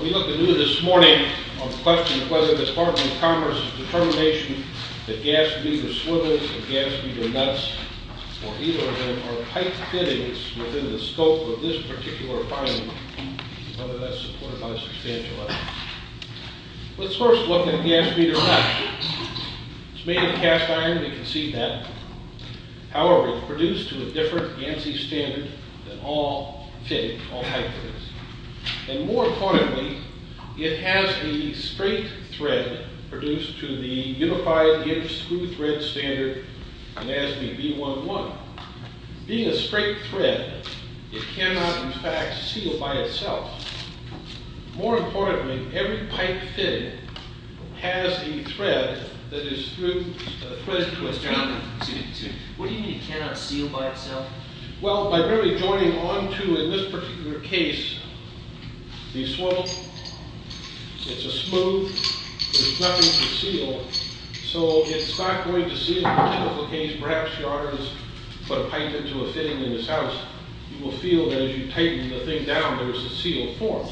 We look anew this morning on the question of whether the Department of Commerce's determination that gas be to swivels and gas be to nuts, or either of them, are tight-fittings within the scope of this particular finding, and whether that's supported by substantial evidence. Let's first look at gas be to nuts. It's made of cast iron, we can see that. However, it's produced to a different ANSI standard than all fittings, all tight-fittings. And more importantly, it has the straight thread produced to the unified Gibbs screw thread standard gas be B-1-1. Being a straight thread, it cannot, in fact, seal by itself. More importantly, every pipe fitting has a thread that is through a thread twister. What do you mean it cannot seal by itself? Well, by really joining onto, in this particular case, the swivel, it's a smooth, there's perhaps yarns, but a pipe into a fitting in this house, you will feel that as you tighten the thing down, there's a sealed form.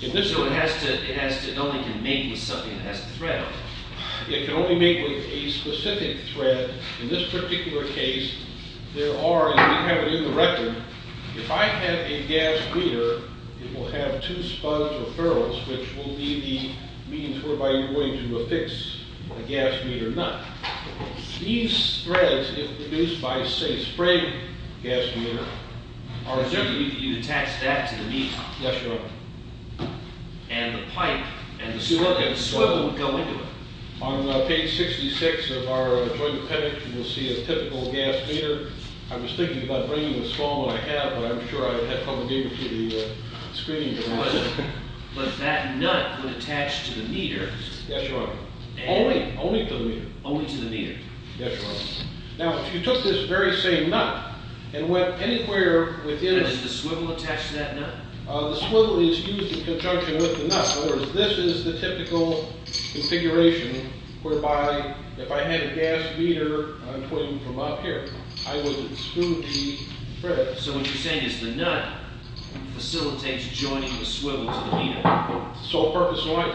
So it only can make with something that has the thread on it? It can only make with a specific thread. In this particular case, there are, as we have it in the record, if I have a gas meter, it will have two spuds or furrows, which will be the means whereby you're going to affix a gas meter nut. These threads, if produced by, say, a spray gas meter... You'd attach that to the meter? Yes, sir. And the pipe and the swivel would go into it? On page 66 of our joint appendix, you will see a typical gas meter. I was thinking about bringing the small one I have, but I'm sure I'd have trouble dealing with the screening device. But that nut would attach to the meter? Yes, sir. Only? Only to the meter. Only to the meter. Yes, sir. Now, if you took this very same nut and went anywhere within... And does the swivel attach to that nut? The swivel is used in conjunction with the nut. In other words, this is the typical configuration whereby if I had a gas meter, I'm pointing from up here, I would smooth the thread. So what you're saying is the nut facilitates joining the swivel to the meter? So far, so right.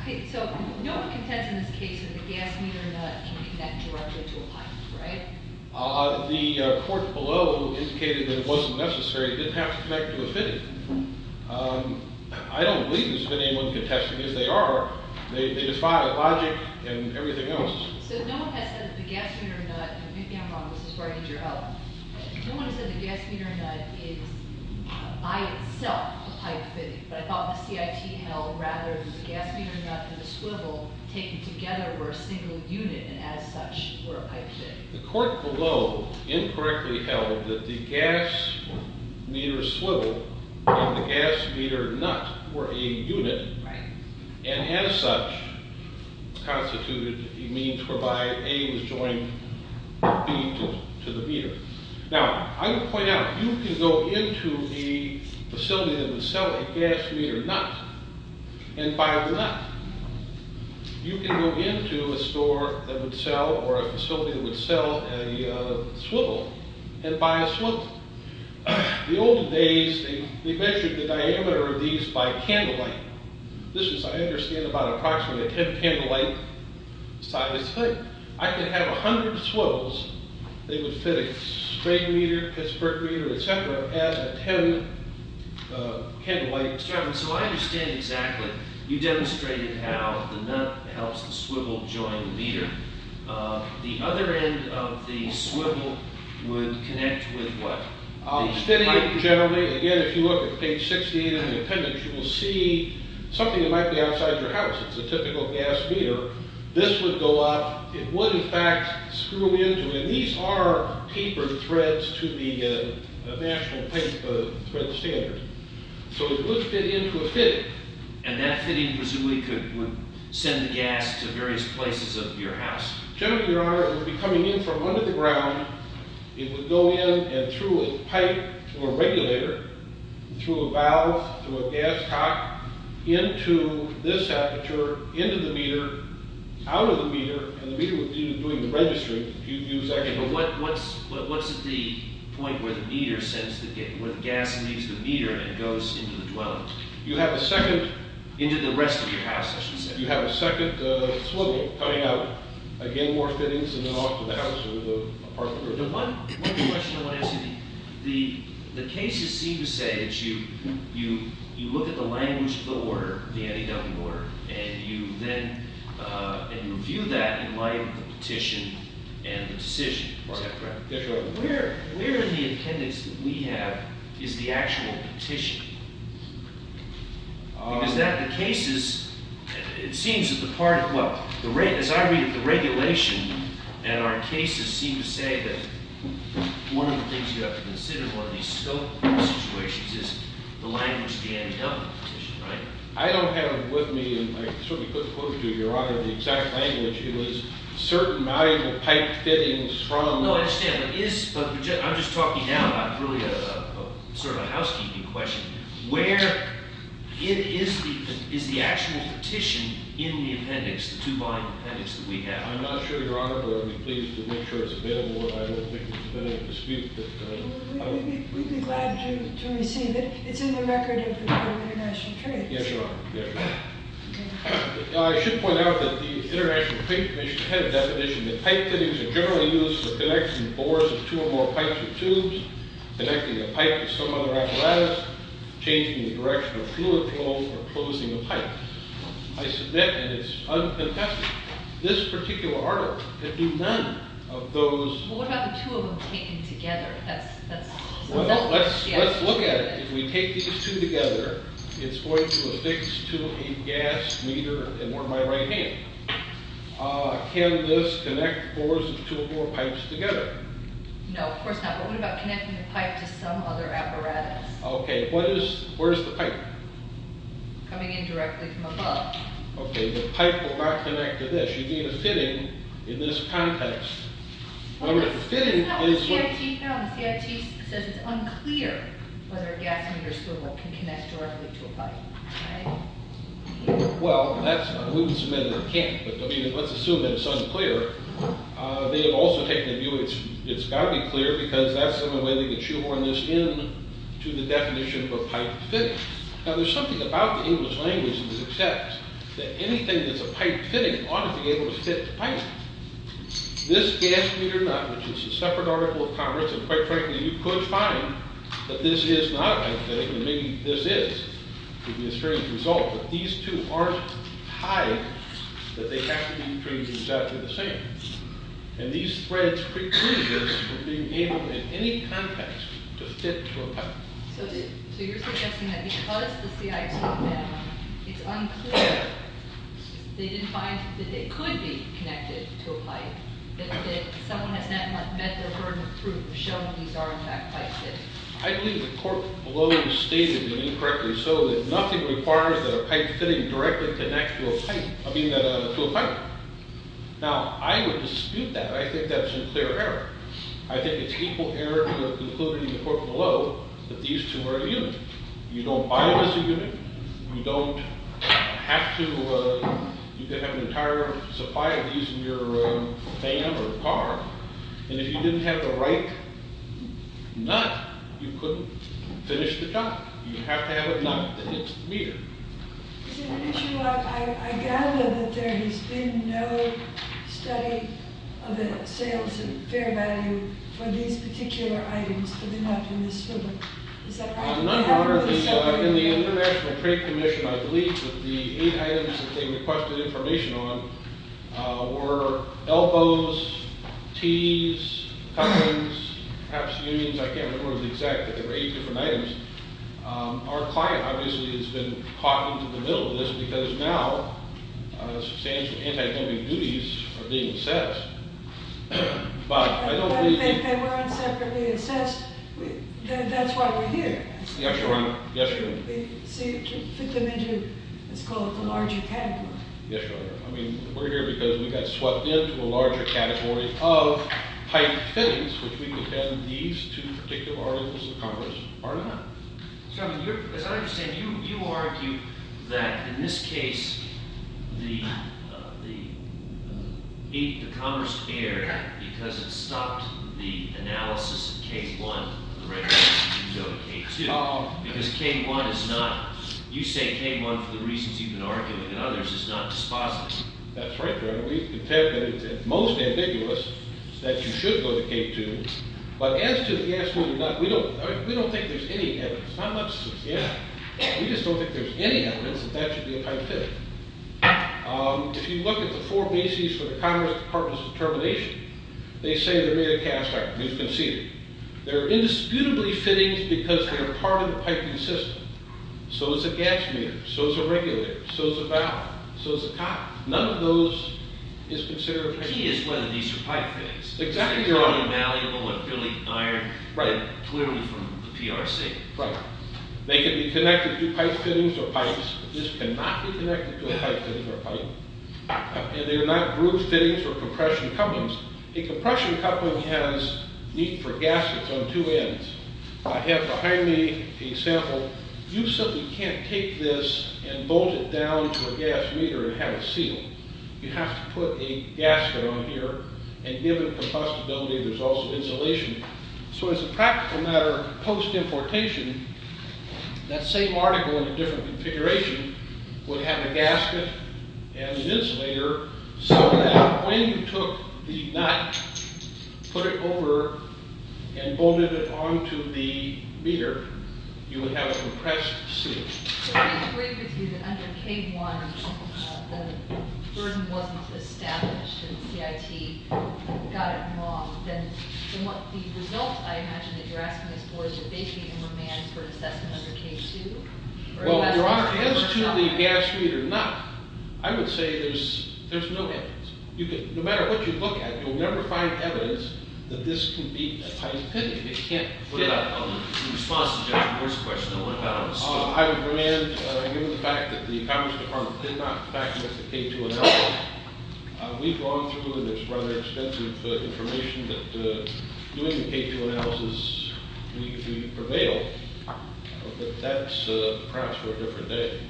Okay, so no one contends in this case that the gas meter nut can connect directly to a pipe, right? The report below indicated that it wasn't necessary. It didn't have to connect to a fitting. I don't believe there's been anyone contesting this. They are. They defy logic and everything else. So no one has said that the gas meter nut, and maybe I'm wrong, this is where I need your help. No one has said the gas meter nut is by itself a pipe fitting, but I thought the CIT held rather the gas meter nut and the swivel taken together were a single unit and as such were a pipe fitting. The court below incorrectly held that the gas meter swivel and the gas meter nut were a unit and as such constituted a means whereby A was joined B to the meter. Now, I would point out, you can go into a facility that would sell a gas meter nut and buy a nut. You can go into a store that would sell or a facility that would sell a swivel and buy a swivel. In the old days, they measured the diameter of these by candlelight. This was, I understand, about approximately a 10 candlelight sized hood. I could have a hundred swivels. They would fit a spade meter, a Pittsburgh meter, etc. as a 10 candlelight. Mr. Evans, so I understand exactly. You demonstrated how the nut helps the swivel join the meter. The other end of the swivel would connect with what? The fitting generally. Again, if you look at page 68 of the appendix, you will see something that might be outside your house. It's a typical gas meter. This would go up. It would, in fact, screw into, and these are tapered threads to the national pipe standard, so it would fit into a fitting. And that fitting presumably could send the gas to various places of your house. Generally, Your Honor, it would be coming in from under the ground. It would go in and through a pipe, through a regulator, through a valve, through a gas cock, into this aperture, into the meter, out of the meter, and the meter would be doing the registering. But what's at the point where the gas leaves the meter and goes into the dwelling? You have a second... Into the rest of your house, I should say. You have a second swivel coming out. Again, more fittings, and then off to the house or the apartment. One question I want to ask you. The cases seem to say that you look at the language of the order, the anti-dumping order, and you then review that in light of the petition and the decision. Is that correct? Yes, Your Honor. But where in the attendance that we have is the actual petition? Because that, the cases, it seems that the part of, well, as I read the regulation, and our cases seem to say that one of the things you have to consider in one of these scope situations is the language of the anti-dumping petition, right? I don't have with me, and I certainly couldn't quote to you, Your Honor, the exact language. It was certain valuable pipe fittings from... No, I understand, but I'm just talking now about really sort of a housekeeping question. Where is the actual petition in the appendix, the two-line appendix that we have? I'm not sure, Your Honor, but I would be pleased to make sure it's available. I don't think it's been able to speak, but... We'd be glad to receive it. It's in the record of the Bureau of International Trade. Yes, Your Honor. I should point out that the International Trade Commission had a definition that pipe fittings are generally used for connecting bores of two or more pipes or tubes, connecting a pipe to some other apparatus, changing the direction of fluid flow, or closing a pipe. I submit, and it's uncontested, this particular article could do none of those... Well, what about the two of them taken together? Let's look at it. If we take these two together, it's going to affix to a gas meter in my right hand. Can this connect bores of two or more pipes together? No, of course not, but what about connecting the pipe to some other apparatus? Okay, where is the pipe? Coming in directly from above. Okay, the pipe will not connect to this. You gave a fitting in this context. Well, it's not what the CIT found. The CIT says it's unclear whether a gas meter spool can connect directly to a pipe. Well, we can submit that it can't, but let's assume that it's unclear. They have also taken a view that it's got to be clear because that's the only way they can shoehorn this into the definition of a pipe fitting. Now, there's something about the English language that accepts that anything that's a pipe fitting ought to be able to fit the pipe. This gas meter nut, which is a separate article of Congress, and quite frankly you could find that this is not a pipe fitting, and maybe this is. It would be a strange result. But these two aren't tied that they have to be between exactly the same. And these threads preclude this from being able in any context to fit to a pipe. So you're suggesting that because the CIT found that it's unclear, they didn't find that they could be connected to a pipe, that someone has not met their burden of proof showing these are in fact pipe fittings. I believe the court below stated incorrectly so that nothing requires that a pipe fitting directly connect to a pipe. Now, I would dispute that. I think that's a clear error. I think it's equal error to have concluded in the court below that these two are a unit. You don't buy it as a unit. You don't have to. You could have an entire supply of these in your van or car. And if you didn't have the right nut, you couldn't finish the job. You have to have a nut that hits the meter. Is it an issue? I gather that there has been no study of the sales of fair value for these particular items to be left in the swimming pool. Is that right? In the International Trade Commission, I believe that the eight items that they requested information on were elbows, tees, cupboards, perhaps unions. I can't remember the exact, but there were eight different items. Our client obviously has been caught in the middle of this because now substantial anti-dumping duties are being assessed. But if they weren't separately assessed, that's why we're here. Yes, Your Honor. To fit them into what's called the larger category. Yes, Your Honor. I mean, we're here because we got swept into a larger category of pipe fittings, which we would have these two particular articles of Congress. Pardon? Your Honor, as I understand, you argue that in this case, the Congress erred because it stopped the analysis of K-1, the rate at which you go to K-2. Because K-1 is not – you say K-1 for the reasons you've been arguing and others is not dispositive. That's right, Your Honor. We've determined that it's most ambiguous that you should go to K-2. But as to the gas holder nut, we don't think there's any evidence, not much since the end. We just don't think there's any evidence that that should be a pipe fitting. If you look at the four bases for the Congress Department's determination, they say they're made of cast iron. It's conceded. They're indisputably fittings because they're part of the piping system. So is a gas meter. So is a regulator. So is a valve. So is a cock. None of those is considered fittings. The key is whether these are pipe fittings. Exactly, Your Honor. They're un-malleable, acrylic iron, clearly from the PRC. Right. They can be connected to pipe fittings or pipes. This cannot be connected to a pipe fitting or pipe. And they're not groove fittings or compression couplings. A compression coupling has need for gaskets on two ends. I have behind me a sample. You simply can't take this and bolt it down to a gas meter and have it sealed. You have to put a gasket on here. And given the possibility, there's also insulation. So as a practical matter, post-importation, that same article in a different configuration would have a gasket and an insulator so that when you took the nut, put it over, and bolted it on to the meter, you would have a compressed seal. So let me agree with you that under K-1, the burden wasn't established and CIT got it wrong. Then the result, I imagine, that you're asking us for is a vacating remand for an assessment under K-2? Well, Your Honor, as to the gas meter nut, I would say there's no evidence. No matter what you look at, you'll never find evidence that this can be a pipe fitting. In response to Judge Brewer's question, I want to balance. I would demand, given the fact that the Congress Department did not factor in the K-2 analysis, we've gone through and there's rather extensive information that doing the K-2 analysis we prevailed, but that's perhaps for a different day.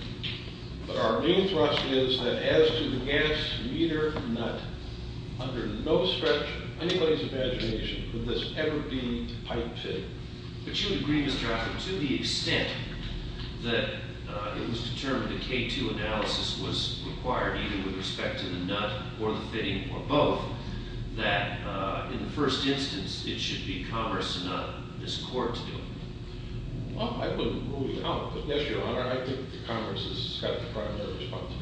But our new thrust is that as to the gas meter nut, under no stretch of anybody's imagination could this ever be a pipe fitting. But you would agree, Mr. Offit, to the extent that it was determined the K-2 analysis was required either with respect to the nut or the fitting or both, that in the first instance, it should be Congress and not this Court to do it. Well, I wouldn't rule it out, but yes, Your Honor, I think the Congress is kind of the primary response.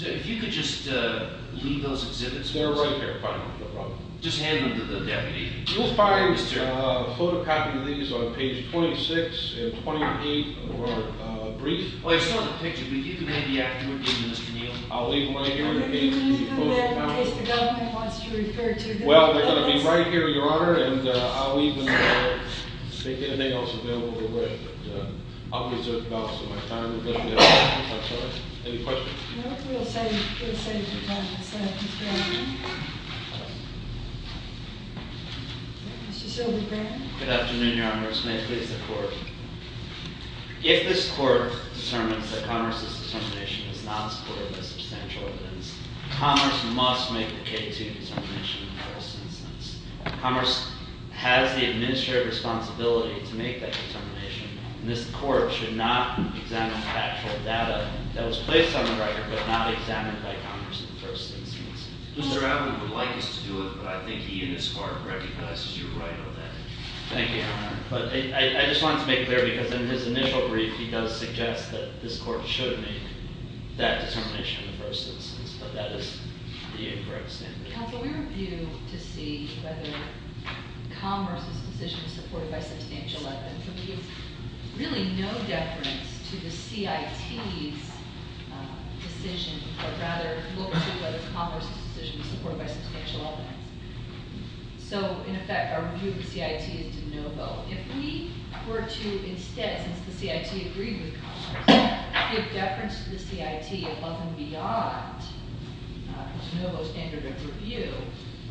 If you could just leave those exhibits. They're right there, fine, no problem. Just hand them to the deputy. You'll find photocopying these on page 26 and 28 of our brief. Well, they're still in the picture, but you can leave the afternoon with them, Mr. Neal. I'll leave them right here. Well, they're going to be right here, Your Honor, and I'll leave them there. If anything else is available, go right ahead. I'll reserve the balance of my time. This may please the Court. If this Court determines that Congress's determination is not supported by substantial evidence, Congress must make the K-2 determination in the first instance. Congress has the administrative responsibility to make that determination, and this Court should not examine factual data that was placed on the record but not examined by Congress in the first instance. Mr. Allen would like us to do it, but I think he, in his heart, recognizes you're right on that. Thank you, Your Honor. But I just wanted to make clear, because in his initial brief, he does suggest that this Court should make that determination in the first instance, but that is the incorrect statement. Counsel, we review to see whether Congress's decision is supported by substantial evidence. For me, there's really no deference to the CIT's decision, or rather look to whether Congress's decision is supported by substantial evidence. So, in effect, our review of the CIT is de novo. If we were to instead, since the CIT agreed with Congress, give deference to the CIT above and beyond the de novo standard of review,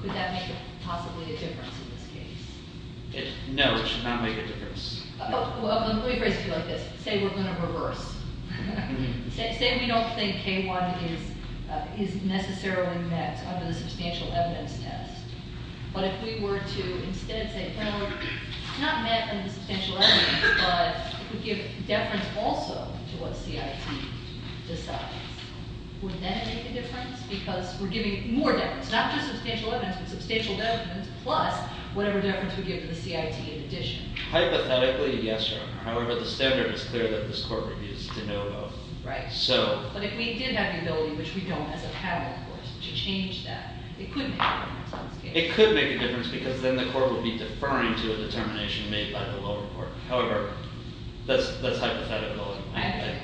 could that make possibly a difference in this case? No, it should not make a difference. Well, let me phrase it like this. Say we're going to reverse. Say we don't think K-1 is necessarily met under the substantial evidence test. But if we were to instead say, well, it's not met under the substantial evidence, but it would give deference also to what CIT decides. Would that make a difference? Because we're giving more deference, not just substantial evidence, but substantial deference plus whatever deference we give to the CIT in addition. Hypothetically, yes, Your Honor. However, the standard is clear that this court reviews de novo. Right. But if we did have the ability, which we don't as a panel, of course, to change that, it could make a difference in this case. It could make a difference because then the court would be deferring to a determination made by the lower court. However, that's hypothetical. Okay.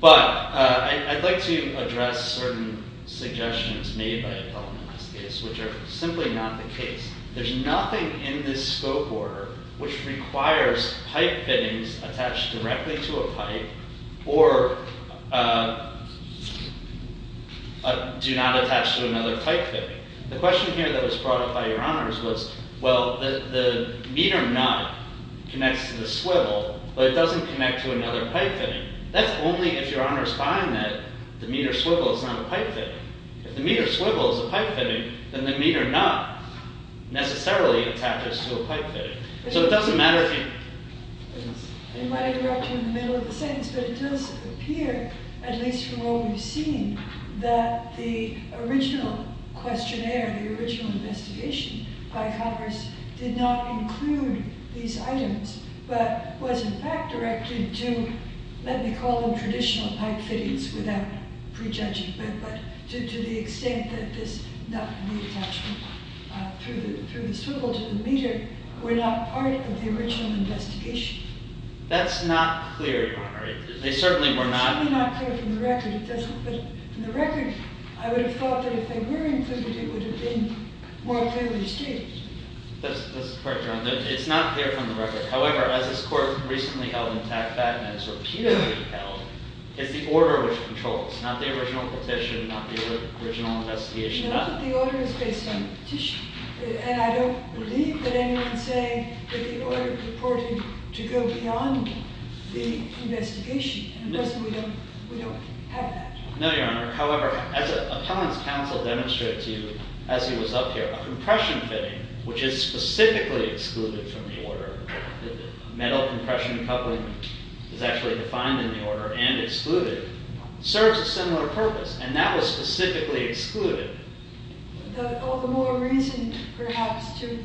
But I'd like to address certain suggestions made by the panel in this case, which are simply not the case. There's nothing in this scope order which requires pipe fittings attached directly to a pipe or do not attach to another pipe fitting. The question here that was brought up by Your Honors was, well, the meter nut connects to the swivel, but it doesn't connect to another pipe fitting. That's only if Your Honors find that the meter swivel is not a pipe fitting. If the meter swivel is a pipe fitting, then the meter nut necessarily attaches to a pipe fitting. So it doesn't matter if you… I might interrupt you in the middle of the sentence, but it does appear, at least from what we've seen, that the original questionnaire, the original investigation by Congress did not include these items, but was, in fact, directed to, let me call them traditional pipe fittings without prejudging, but to the extent that this nut and the attachment through the swivel to the meter were not part of the original investigation. That's not clear, Your Honor. They certainly were not… It's certainly not clear from the record. But from the record, I would have thought that if they were included, it would have been more clearly stated. That's correct, Your Honor. It's not clear from the record. However, as this Court recently held in TAC, and has repeatedly held, is the order which controls, not the original petition, not the original investigation. No, but the order is based on the petition. And I don't believe that anyone's saying that the order reported to go beyond the investigation. And personally, we don't have that. No, Your Honor. However, as Appellant's counsel demonstrated to you as he was up here, a compression fitting, which is specifically excluded from the order, the metal compression coupling is actually defined in the order and excluded, serves a similar purpose. And that was specifically excluded. But all the more reason, perhaps, to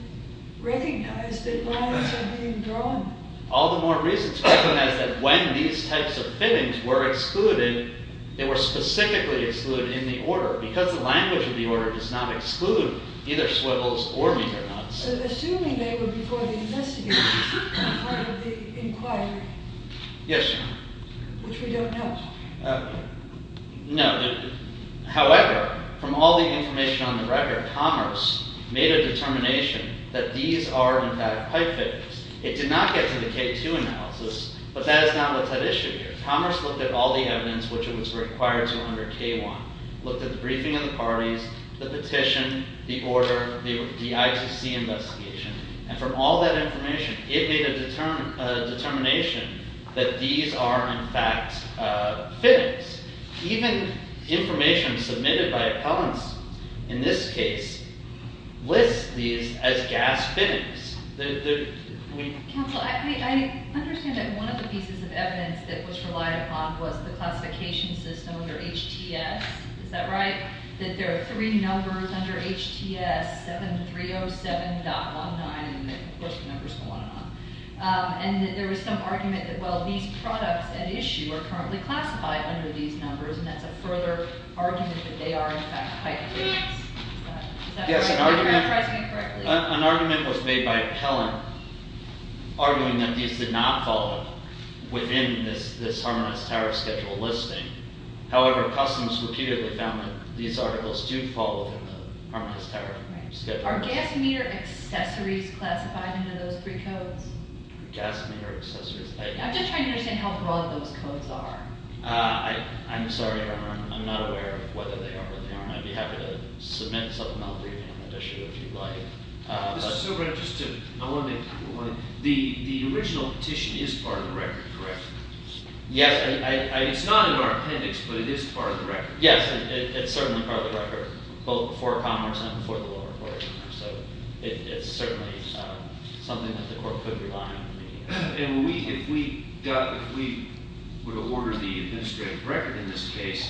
recognize that lines are being drawn. All the more reason to recognize that when these types of fittings were excluded, they were specifically excluded in the order because the language of the order does not exclude either swivels or meter nuts. Assuming they were before the investigators as part of the inquiry. Yes, Your Honor. Which we don't know. No. However, from all the information on the record, Commerce made a determination that these are, in fact, pipe fittings. It did not get to the K-2 analysis, but that is not what's at issue here. Commerce looked at all the evidence which was required to honor K-1, looked at the briefing of the parties, the petition, the order, the ITC investigation. And from all that information, it made a determination that these are, in fact, fittings. Even information submitted by appellants in this case lists these as gas fittings. Counsel, I understand that one of the pieces of evidence that was relied upon was the classification system under HTS. Is that right? That there are three numbers under HTS, 7307.19, and of course the numbers go on and on. And that there was some argument that, well, these products at issue are currently classified under these numbers, and that's a further argument that they are, in fact, pipe fittings. Yes, an argument was made by an appellant, arguing that these did not fall within this Harmonized Tariff Schedule listing. However, customs repeatedly found that these articles do fall within the Harmonized Tariff Schedule. Are gas meter accessories classified under those three codes? Gas meter accessories? I'm just trying to understand how broad those codes are. I'm sorry, I'm not aware of whether they are or they aren't. I'd be happy to submit something I'll review in an edition if you'd like. This is so interesting. I want to make one point. The original petition is part of the record, correct? Yes. It's not in our appendix, but it is part of the record. Yes, it's certainly part of the record, both before Commerce and before the lower court. So it's certainly something that the court could rely on. And if we would order the administrative record in this case,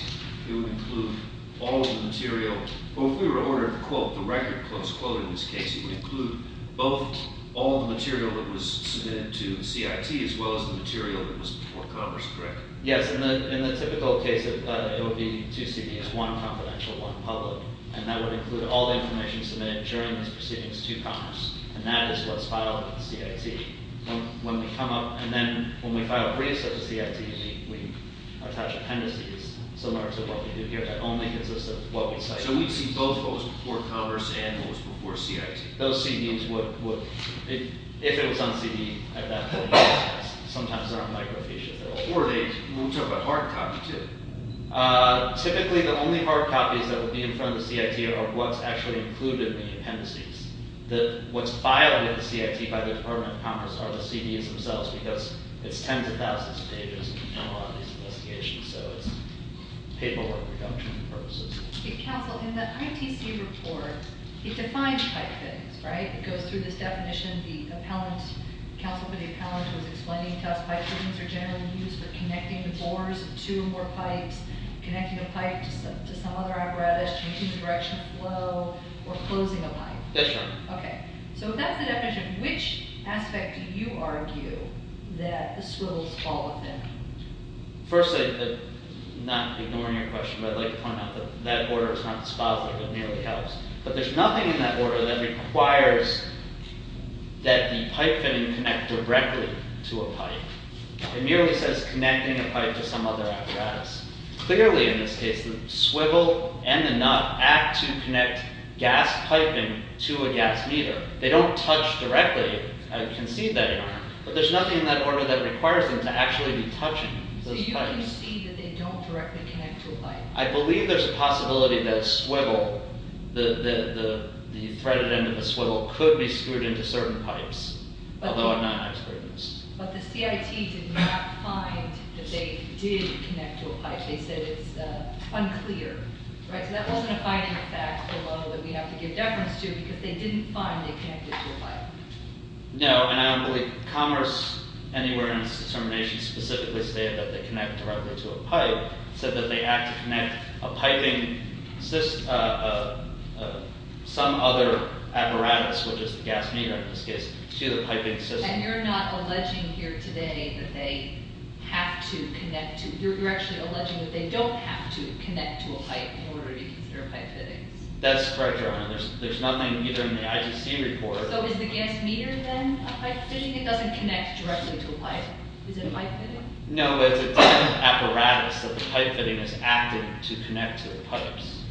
it would include all of the material. Well, if we were to order, quote, the record, close quote in this case, it would include both all of the material that was submitted to CIT as well as the material that was before Commerce, correct? Yes. In the typical case, it would be two CDs, one confidential, one public, and that would include all of the information submitted during these proceedings to Commerce, and that is what's filed with CIT. When we come up and then when we file resub to CIT, we attach appendices similar to what we did here that only consists of what we cite. So we'd see both what was before Commerce and what was before CIT. Those CDs would, if it was on CD, at that point, sometimes there are microfiches that will forward it. We'll talk about hard copies too. Typically, the only hard copies that would be in front of CIT are what's actually included in the appendices. What's filed with CIT by the Department of Commerce are the CDs themselves because it's tens of thousands of pages and we've done a lot of these investigations, so it's paperwork reduction purposes. Counsel, in the ITC report, it defines pipe fittings, right? It goes through this definition, the appellant, counsel for the appellant was explaining to us pipe fittings are generally used for connecting the bores of two or more pipes, connecting a pipe to some other apparatus, changing the direction of flow, or closing a pipe. Yes, ma'am. Okay, so if that's the definition, which aspect do you argue that the swivels fall within? First, not ignoring your question, but I'd like to point out that that order is not dispositive. It merely helps. But there's nothing in that order that requires that the pipe fitting connect directly to a pipe. It merely says connecting a pipe to some other apparatus. Clearly, in this case, the swivel and the nut act to connect gas piping to a gas meter. They don't touch directly, I concede that in art, but there's nothing in that order that requires them to actually be touching those pipes. Do you see that they don't directly connect to a pipe? I believe there's a possibility that a swivel, the threaded end of a swivel, could be screwed into certain pipes, although I'm not an expert in this. But the CIT did not find that they did connect to a pipe. They said it's unclear. So that wasn't a binding fact below that we have to give deference to, because they didn't find they connected to a pipe. No, and I don't believe commerce anywhere in this determination specifically said that they connect directly to a pipe. It said that they act to connect a piping system, some other apparatus, which is the gas meter in this case, to the piping system. So you're not alleging here today that they have to connect to— you're actually alleging that they don't have to connect to a pipe in order to be considered pipe fittings. That's correct, Your Honor. There's nothing either in the IGC report— So is the gas meter then a pipe fitting? It doesn't connect directly to a pipe. Is it a pipe fitting? No, it's an apparatus that the pipe fitting is acting to connect to the pipes.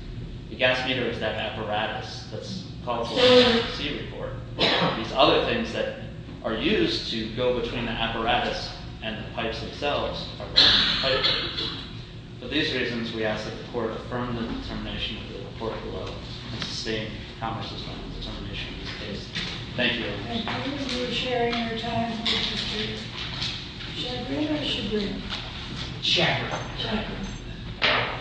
The gas meter is that apparatus that's called for in the IGC report. These other things that are used to go between the apparatus and the pipes themselves are pipe fittings. For these reasons, we ask that the Court affirm the determination of the report below and sustain commerce's final determination in this case. Thank you. I believe you were sharing your time with the jury. Should I bring it, or should we? Check it. Check it. All right.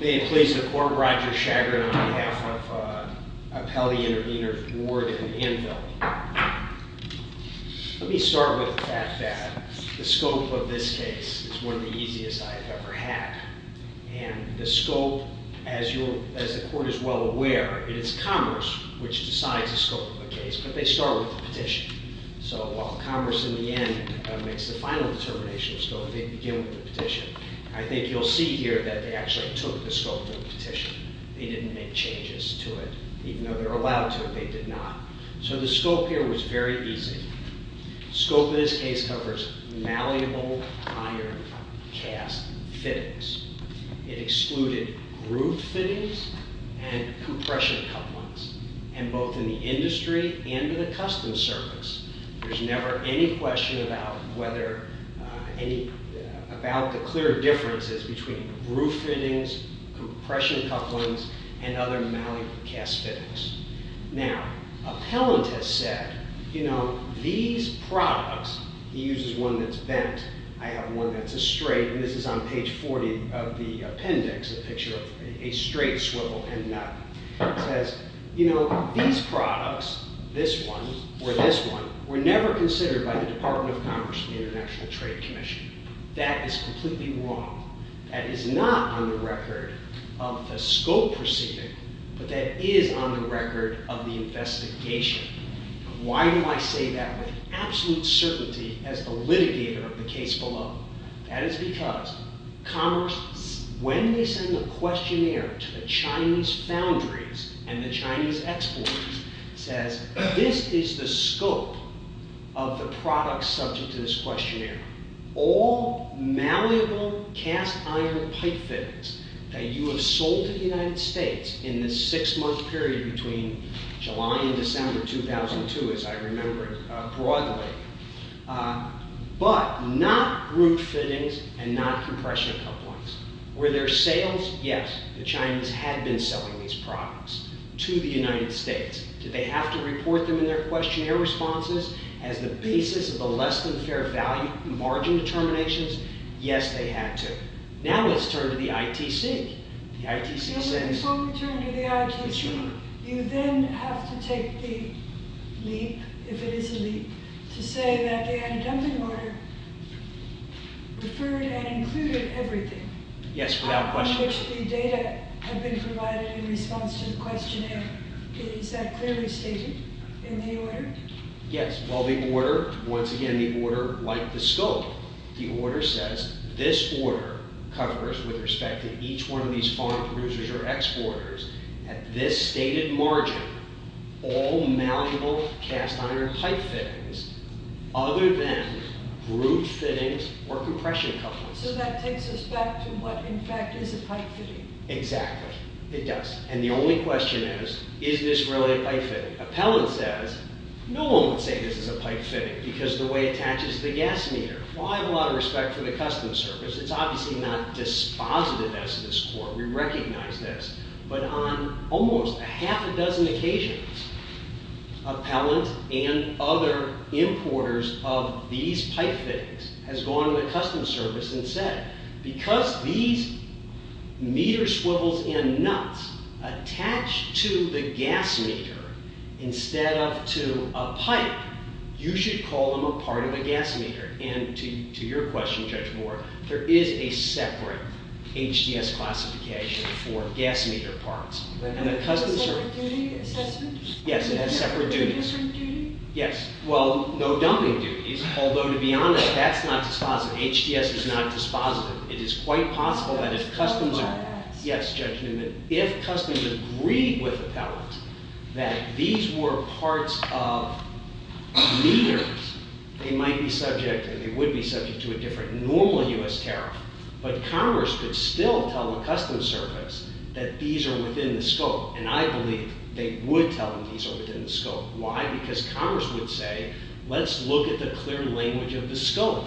May it please the Court, Roger Shagrin on behalf of Appellee Intervenors Ward and Anvil. Let me start with the fact that the scope of this case is one of the easiest I've ever had. The scope, as the Court is well aware, it is commerce which decides the scope of the case, but they start with the petition. So while commerce in the end makes the final determination, they begin with the petition. I think you'll see here that they actually took the scope of the petition. They didn't make changes to it. Even though they're allowed to, they did not. So the scope here was very easy. The scope of this case covers malleable iron cast fittings. It excluded groove fittings and compression couplings. And both in the industry and in the customs service, there's never any question about whether any, about the clear differences between groove fittings, compression couplings, and other malleable cast fittings. Now, Appellant has said, you know, these products, he uses one that's bent. I have one that's a straight, and this is on page 40 of the appendix, a picture of a straight swivel and nut. He says, you know, these products, this one or this one, were never considered by the Department of Commerce or the International Trade Commission. That is completely wrong. That is not on the record of the scope proceeding, but that is on the record of the investigation. Why do I say that with absolute certainty as the litigator of the case below? That is because Commerce, when they send the questionnaire to the Chinese foundries and the Chinese exporters, says this is the scope of the product subject to this questionnaire. All malleable cast iron pipe fittings that you have sold to the United States in this six-month period between July and December 2002, as I remember it broadly, but not groove fittings and not compression couplings. Were there sales? Yes. The Chinese had been selling these products to the United States. Did they have to report them in their questionnaire responses as the basis of the less-than-fair-value margin determinations? Yes, they had to. Now let's turn to the ITC. The ITC says... Before we turn to the ITC, you then have to take the leap, if it is a leap, to say that the undumping order referred and included everything... Yes, without question. ...on which the data had been provided in response to the questionnaire. Is that clearly stated in the order? Yes. Well, the order, once again, the order, like the scope, the order says this order covers, with respect to each one of these foreign producers or exporters, at this stated margin, all malleable cast iron pipe fittings other than groove fittings or compression couplings. So that takes us back to what, in fact, is a pipe fitting. Exactly. It does. And the only question is, is this really a pipe fitting? Appellant says, no one would say this is a pipe fitting because of the way it attaches to the gas meter. Well, I have a lot of respect for the Customs Service. It's obviously not dispositive as to this court. We recognize this. But on almost a half a dozen occasions, appellant and other importers of these pipe fittings has gone to the Customs Service and said, because these meter swivels and nuts attach to the gas meter instead of to a pipe, you should call them a part of a gas meter. And to your question, Judge Moore, there is a separate HDS classification for gas meter parts. Is that a duty assessment? Yes, it has separate duties. It's a different duty? Yes. Well, no dumping duties. Although, to be honest, that's not dispositive. It is quite possible that if Customs agreed with appellant that these were parts of meters, they might be subject and they would be subject to a different normal U.S. tariff. But Congress could still tell the Customs Service that these are within the scope. And I believe they would tell them these are within the scope. Why? Because Congress would say, let's look at the clear language of the scope.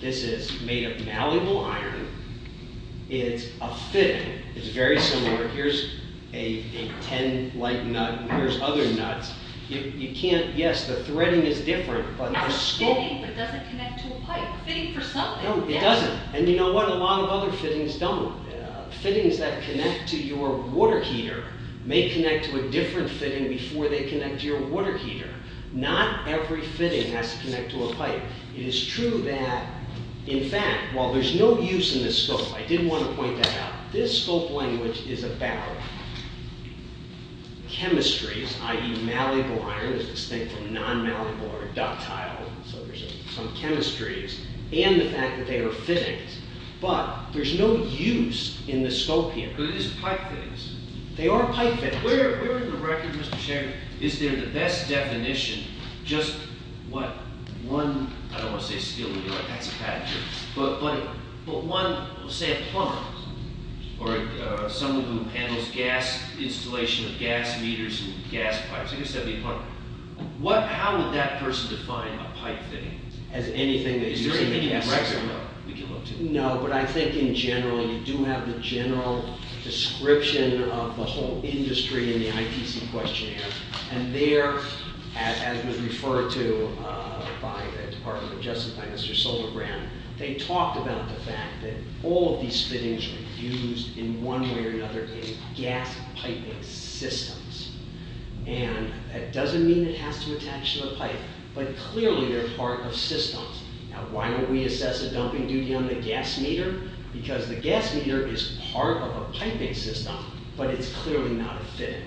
This is made of malleable iron. It's a fitting. It's very similar. Here's a 10 light nut and here's other nuts. You can't, yes, the threading is different, but the scope... Fitting, but doesn't connect to a pipe. Fitting for something. No, it doesn't. And you know what? A lot of other fittings don't. Fittings that connect to your water heater may connect to a different fitting before they connect to your water heater. Not every fitting has to connect to a pipe. It is true that, in fact, while there's no use in the scope, I did want to point that out, this scope language is about chemistries, i.e. malleable iron. There's this thing called non-malleable or ductile. So there's some chemistries and the fact that they are fittings. But there's no use in the scope here. But it is pipe fittings. They are pipe fittings. Where in the record, Mr. Chairman, is there the best definition, just what one... I don't want to say steel, but that's a bad joke. But one, say a plumber, or someone who handles gas installation of gas meters and gas pipes. I guess that would be a plumber. How would that person define a pipe fitting? As anything that uses a gas meter? Is there anything in the record? No, we can look to. No, but I think in general you do have the general description of the whole industry in the ITC questionnaire. And there, as was referred to by the Department of Justice, by Mr. Solbergrand, they talked about the fact that all of these fittings are used in one way or another in gas piping systems. And that doesn't mean it has to attach to the pipe, but clearly they're part of systems. Now, why don't we assess the dumping duty on the gas meter? Because the gas meter is part of a piping system, but it's clearly not a fitting.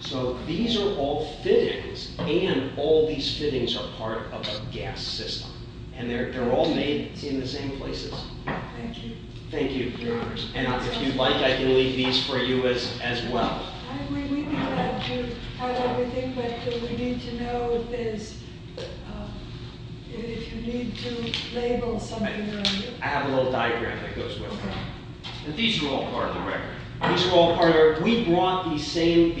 So these are all fittings, and all these fittings are part of a gas system. And they're all made in the same places. Thank you. Thank you, Your Honors. And if you'd like, I can leave these for you as well. We would like to have everything, but we need to know if there's... if you need to label something. I have a little diagram that goes with that. And these are all part of the record. These are all part of the record. We brought the same...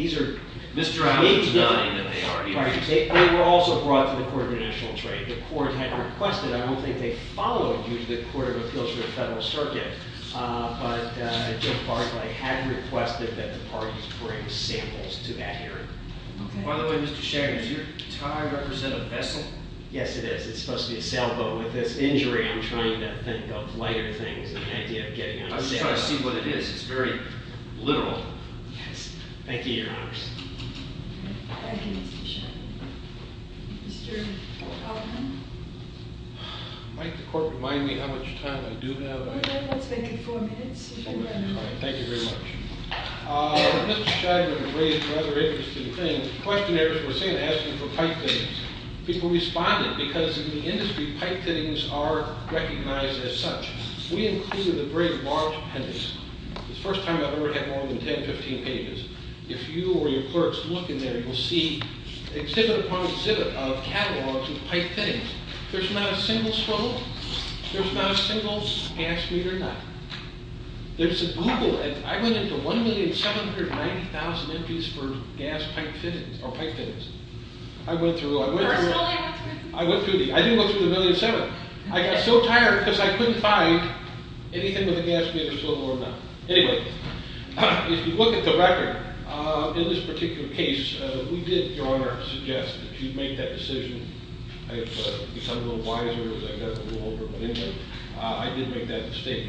Mr. Howard's nodding that they are. They were also brought to the Court of International Trade. The Court had requested. I don't think they followed you to the Court of Appeals for the Federal Circuit, but Jim Barclay had requested that the parties bring samples to that hearing. By the way, Mr. Shaggart, does your tie represent a vessel? Yes, it is. It's supposed to be a sailboat. With this injury, I'm trying to think of lighter things than the idea of getting on a sailboat. I'm just trying to see what it is. It's very literal. Yes. Thank you, Your Honor. Thank you, Mr. Shaggart. Mr. Feldman? Might the Court remind me how much time I do have? Let's make it four minutes. Thank you very much. Mr. Shaggart raised a rather interesting thing. Questionnaires were sent asking for pipe fittings. People responded because in the industry, pipe fittings are recognized as such. We included a very large appendix. It's the first time I've ever had more than 10, 15 pages. If you or your clerks look in there, you will see exhibit upon exhibit of catalogs of pipe fittings. There's not a single swivel. There's not a single gas meter nut. There's a Google... I went into 1,790,000 entries for gas pipe fittings, or pipe fittings. I went through... I didn't go through the 1,700,000. I got so tired because I couldn't find anything with a gas meter swivel or a nut. Anyway, if you look at the record, in this particular case, we did, Your Honor, suggest that you make that decision. I have become a little wiser as I got a little older. But anyway, I did make that mistake.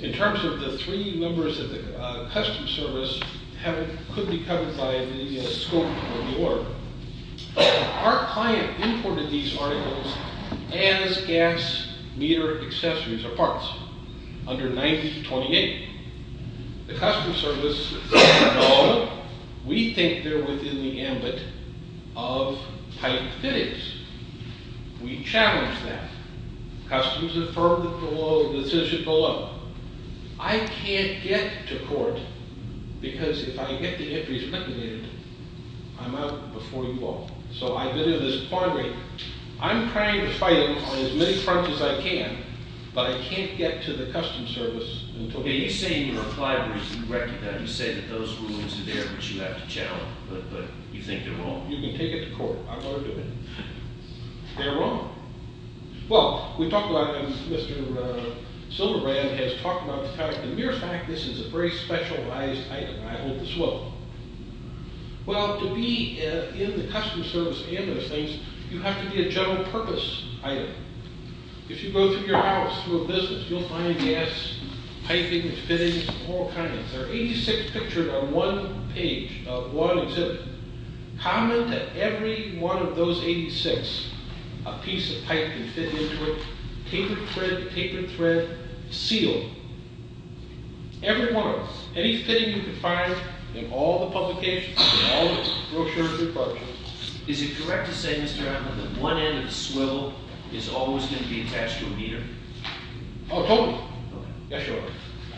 In terms of the three members of the Customs Service who could be covered by the scope of the order, our client imported these articles as gas meter accessories or parts, under 9028. The Customs Service said, no, we think they're within the ambit of pipe fittings. We challenge that. Customs affirmed the decision below. I can't get to court because if I get the entries liquidated, I'm out before you all. So I've been in this quandary. I'm trying to fight them on as many fronts as I can, but I can't get to the Customs Service until... Okay, you say in your reply, Bruce, you recognize, you say that those rulings are there, but you have to challenge them. But you think they're wrong. You can take it to court. I'm going to do it. They're wrong. Well, we talked about them. Mr. Silverbrand has talked about the fact, and mere fact, this is a very specialized item. I hold this well. Well, to be in the Customs Service and those things, you have to be a general purpose item. If you go through your house, through a business, you'll find gas, piping, fittings, all kinds. There are 86 pictured on one page of one exhibit. Comment that every one of those 86, a piece of pipe can fit into it, paper, thread, paper, thread, seal. Every one of them. Any fitting you can find in all the publications, in all the brochures, departments. Is it correct to say, Mr. Hammer, that one end of the swivel is always going to be attached to a meter? Oh, totally. Okay. Yes, sir.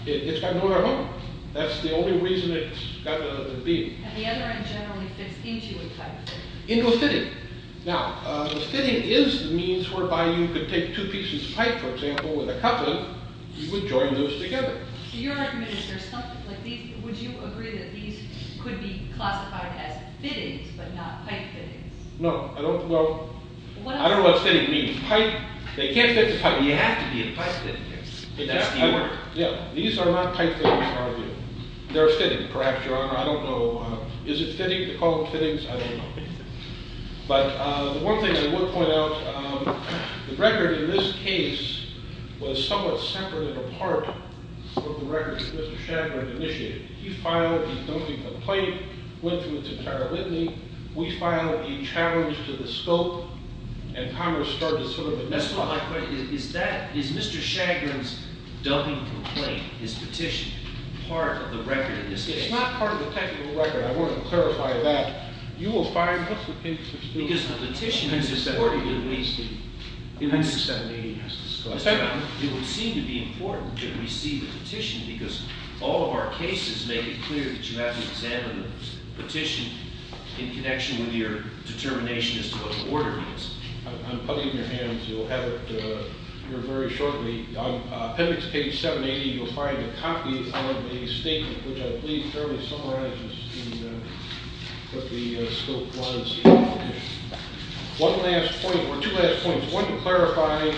It's got nowhere to go. That's the only reason it's got to be. And the other end generally fits into a pipe. Into a fitting. Now, a fitting is the means whereby you could take two pieces of pipe, for example, with a couplet, you could join those together. So you're recommending there's something like these. Would you agree that these could be classified as fittings, but not pipe fittings? No. I don't know. I don't know what fitting means. Pipe. They can't fit the pipe. You have to be a pipe fitting. That's the order. Yeah. These are not pipe fittings, I argue. They're a fitting, perhaps, Your Honor. I don't know. Is it fitting to call them fittings? I don't know. But one thing I will point out, the record in this case was somewhat separate of a part of the record that Mr. Shagrin initiated. He filed a dubbing complaint, went through its entire litany. We filed a challenge to the scope, and Congress started to sort of identify it. That's not my question. Is Mr. Shagrin's dubbing complaint, his petition, part of the record in this case? It's not part of the technical record. I wanted to clarify that. You will find that the papers are still there. Because the petition is important to me. It would seem to be important to receive a petition because all of our cases make it clear that you have to examine the petition in connection with your determination as to what the order is. I'm putting it in your hands. You'll have it here very shortly. On appendix page 780, you'll find a copy of a statement which I believe thoroughly summarizes what the scope was of the petition. One last point, or two last points. One to clarify,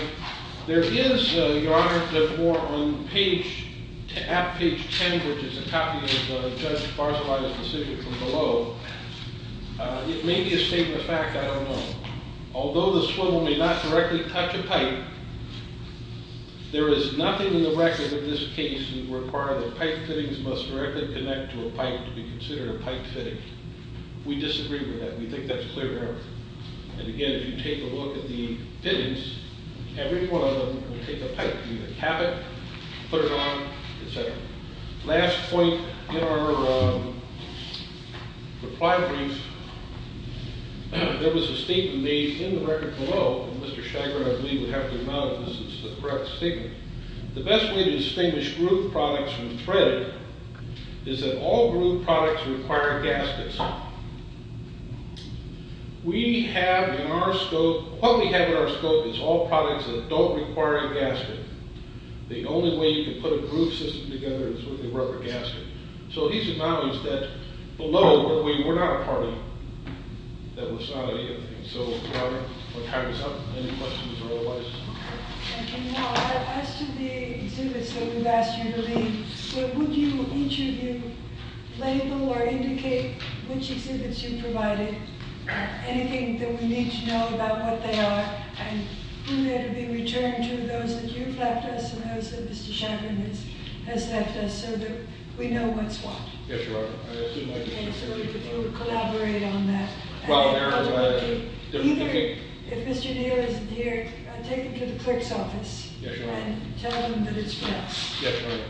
there is, Your Honor, there's more on page, at page 10, which is a copy of Judge Barzilay's decision from below. It may be a statement of fact. I don't know. Although the swivel may not directly touch a pipe, there is nothing in the record of this case that would require that pipe fittings must directly connect to a pipe to be considered a pipe fitting. We disagree with that. We think that's clear, Your Honor. And again, if you take a look at the fittings, every one of them would take a pipe. You would cap it, put it on, et cetera. Last point in our reply brief, there was a statement made in the record below, and Mr. Chagrin, I believe, would have to acknowledge this is the correct statement. The best way to distinguish grooved products from threaded is that all grooved products require gaskets. We have in our scope, what we have in our scope is all products that don't require a gasket. The only way you can put a grooved system together is with a rubber gasket. So he's acknowledged that below, we're not a party, that was not any of it. So, Your Honor, any questions or otherwise? Thank you, Your Honor. As to the exhibits that we've asked you to leave, would each of you label or indicate which exhibits you provided, anything that we need to know about what they are, and who they're to be returned to, those that you've left us and those that Mr. Chagrin has left us so that we know what's what? Yes, Your Honor. So we could collaborate on that. Either, if Mr. DeHale isn't here, take him to the clerk's office and tell him that it's for us. Yes, Your Honor.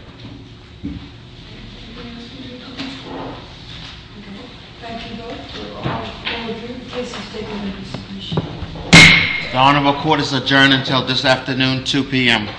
The Honorable Court is adjourned until this afternoon, 2 p.m.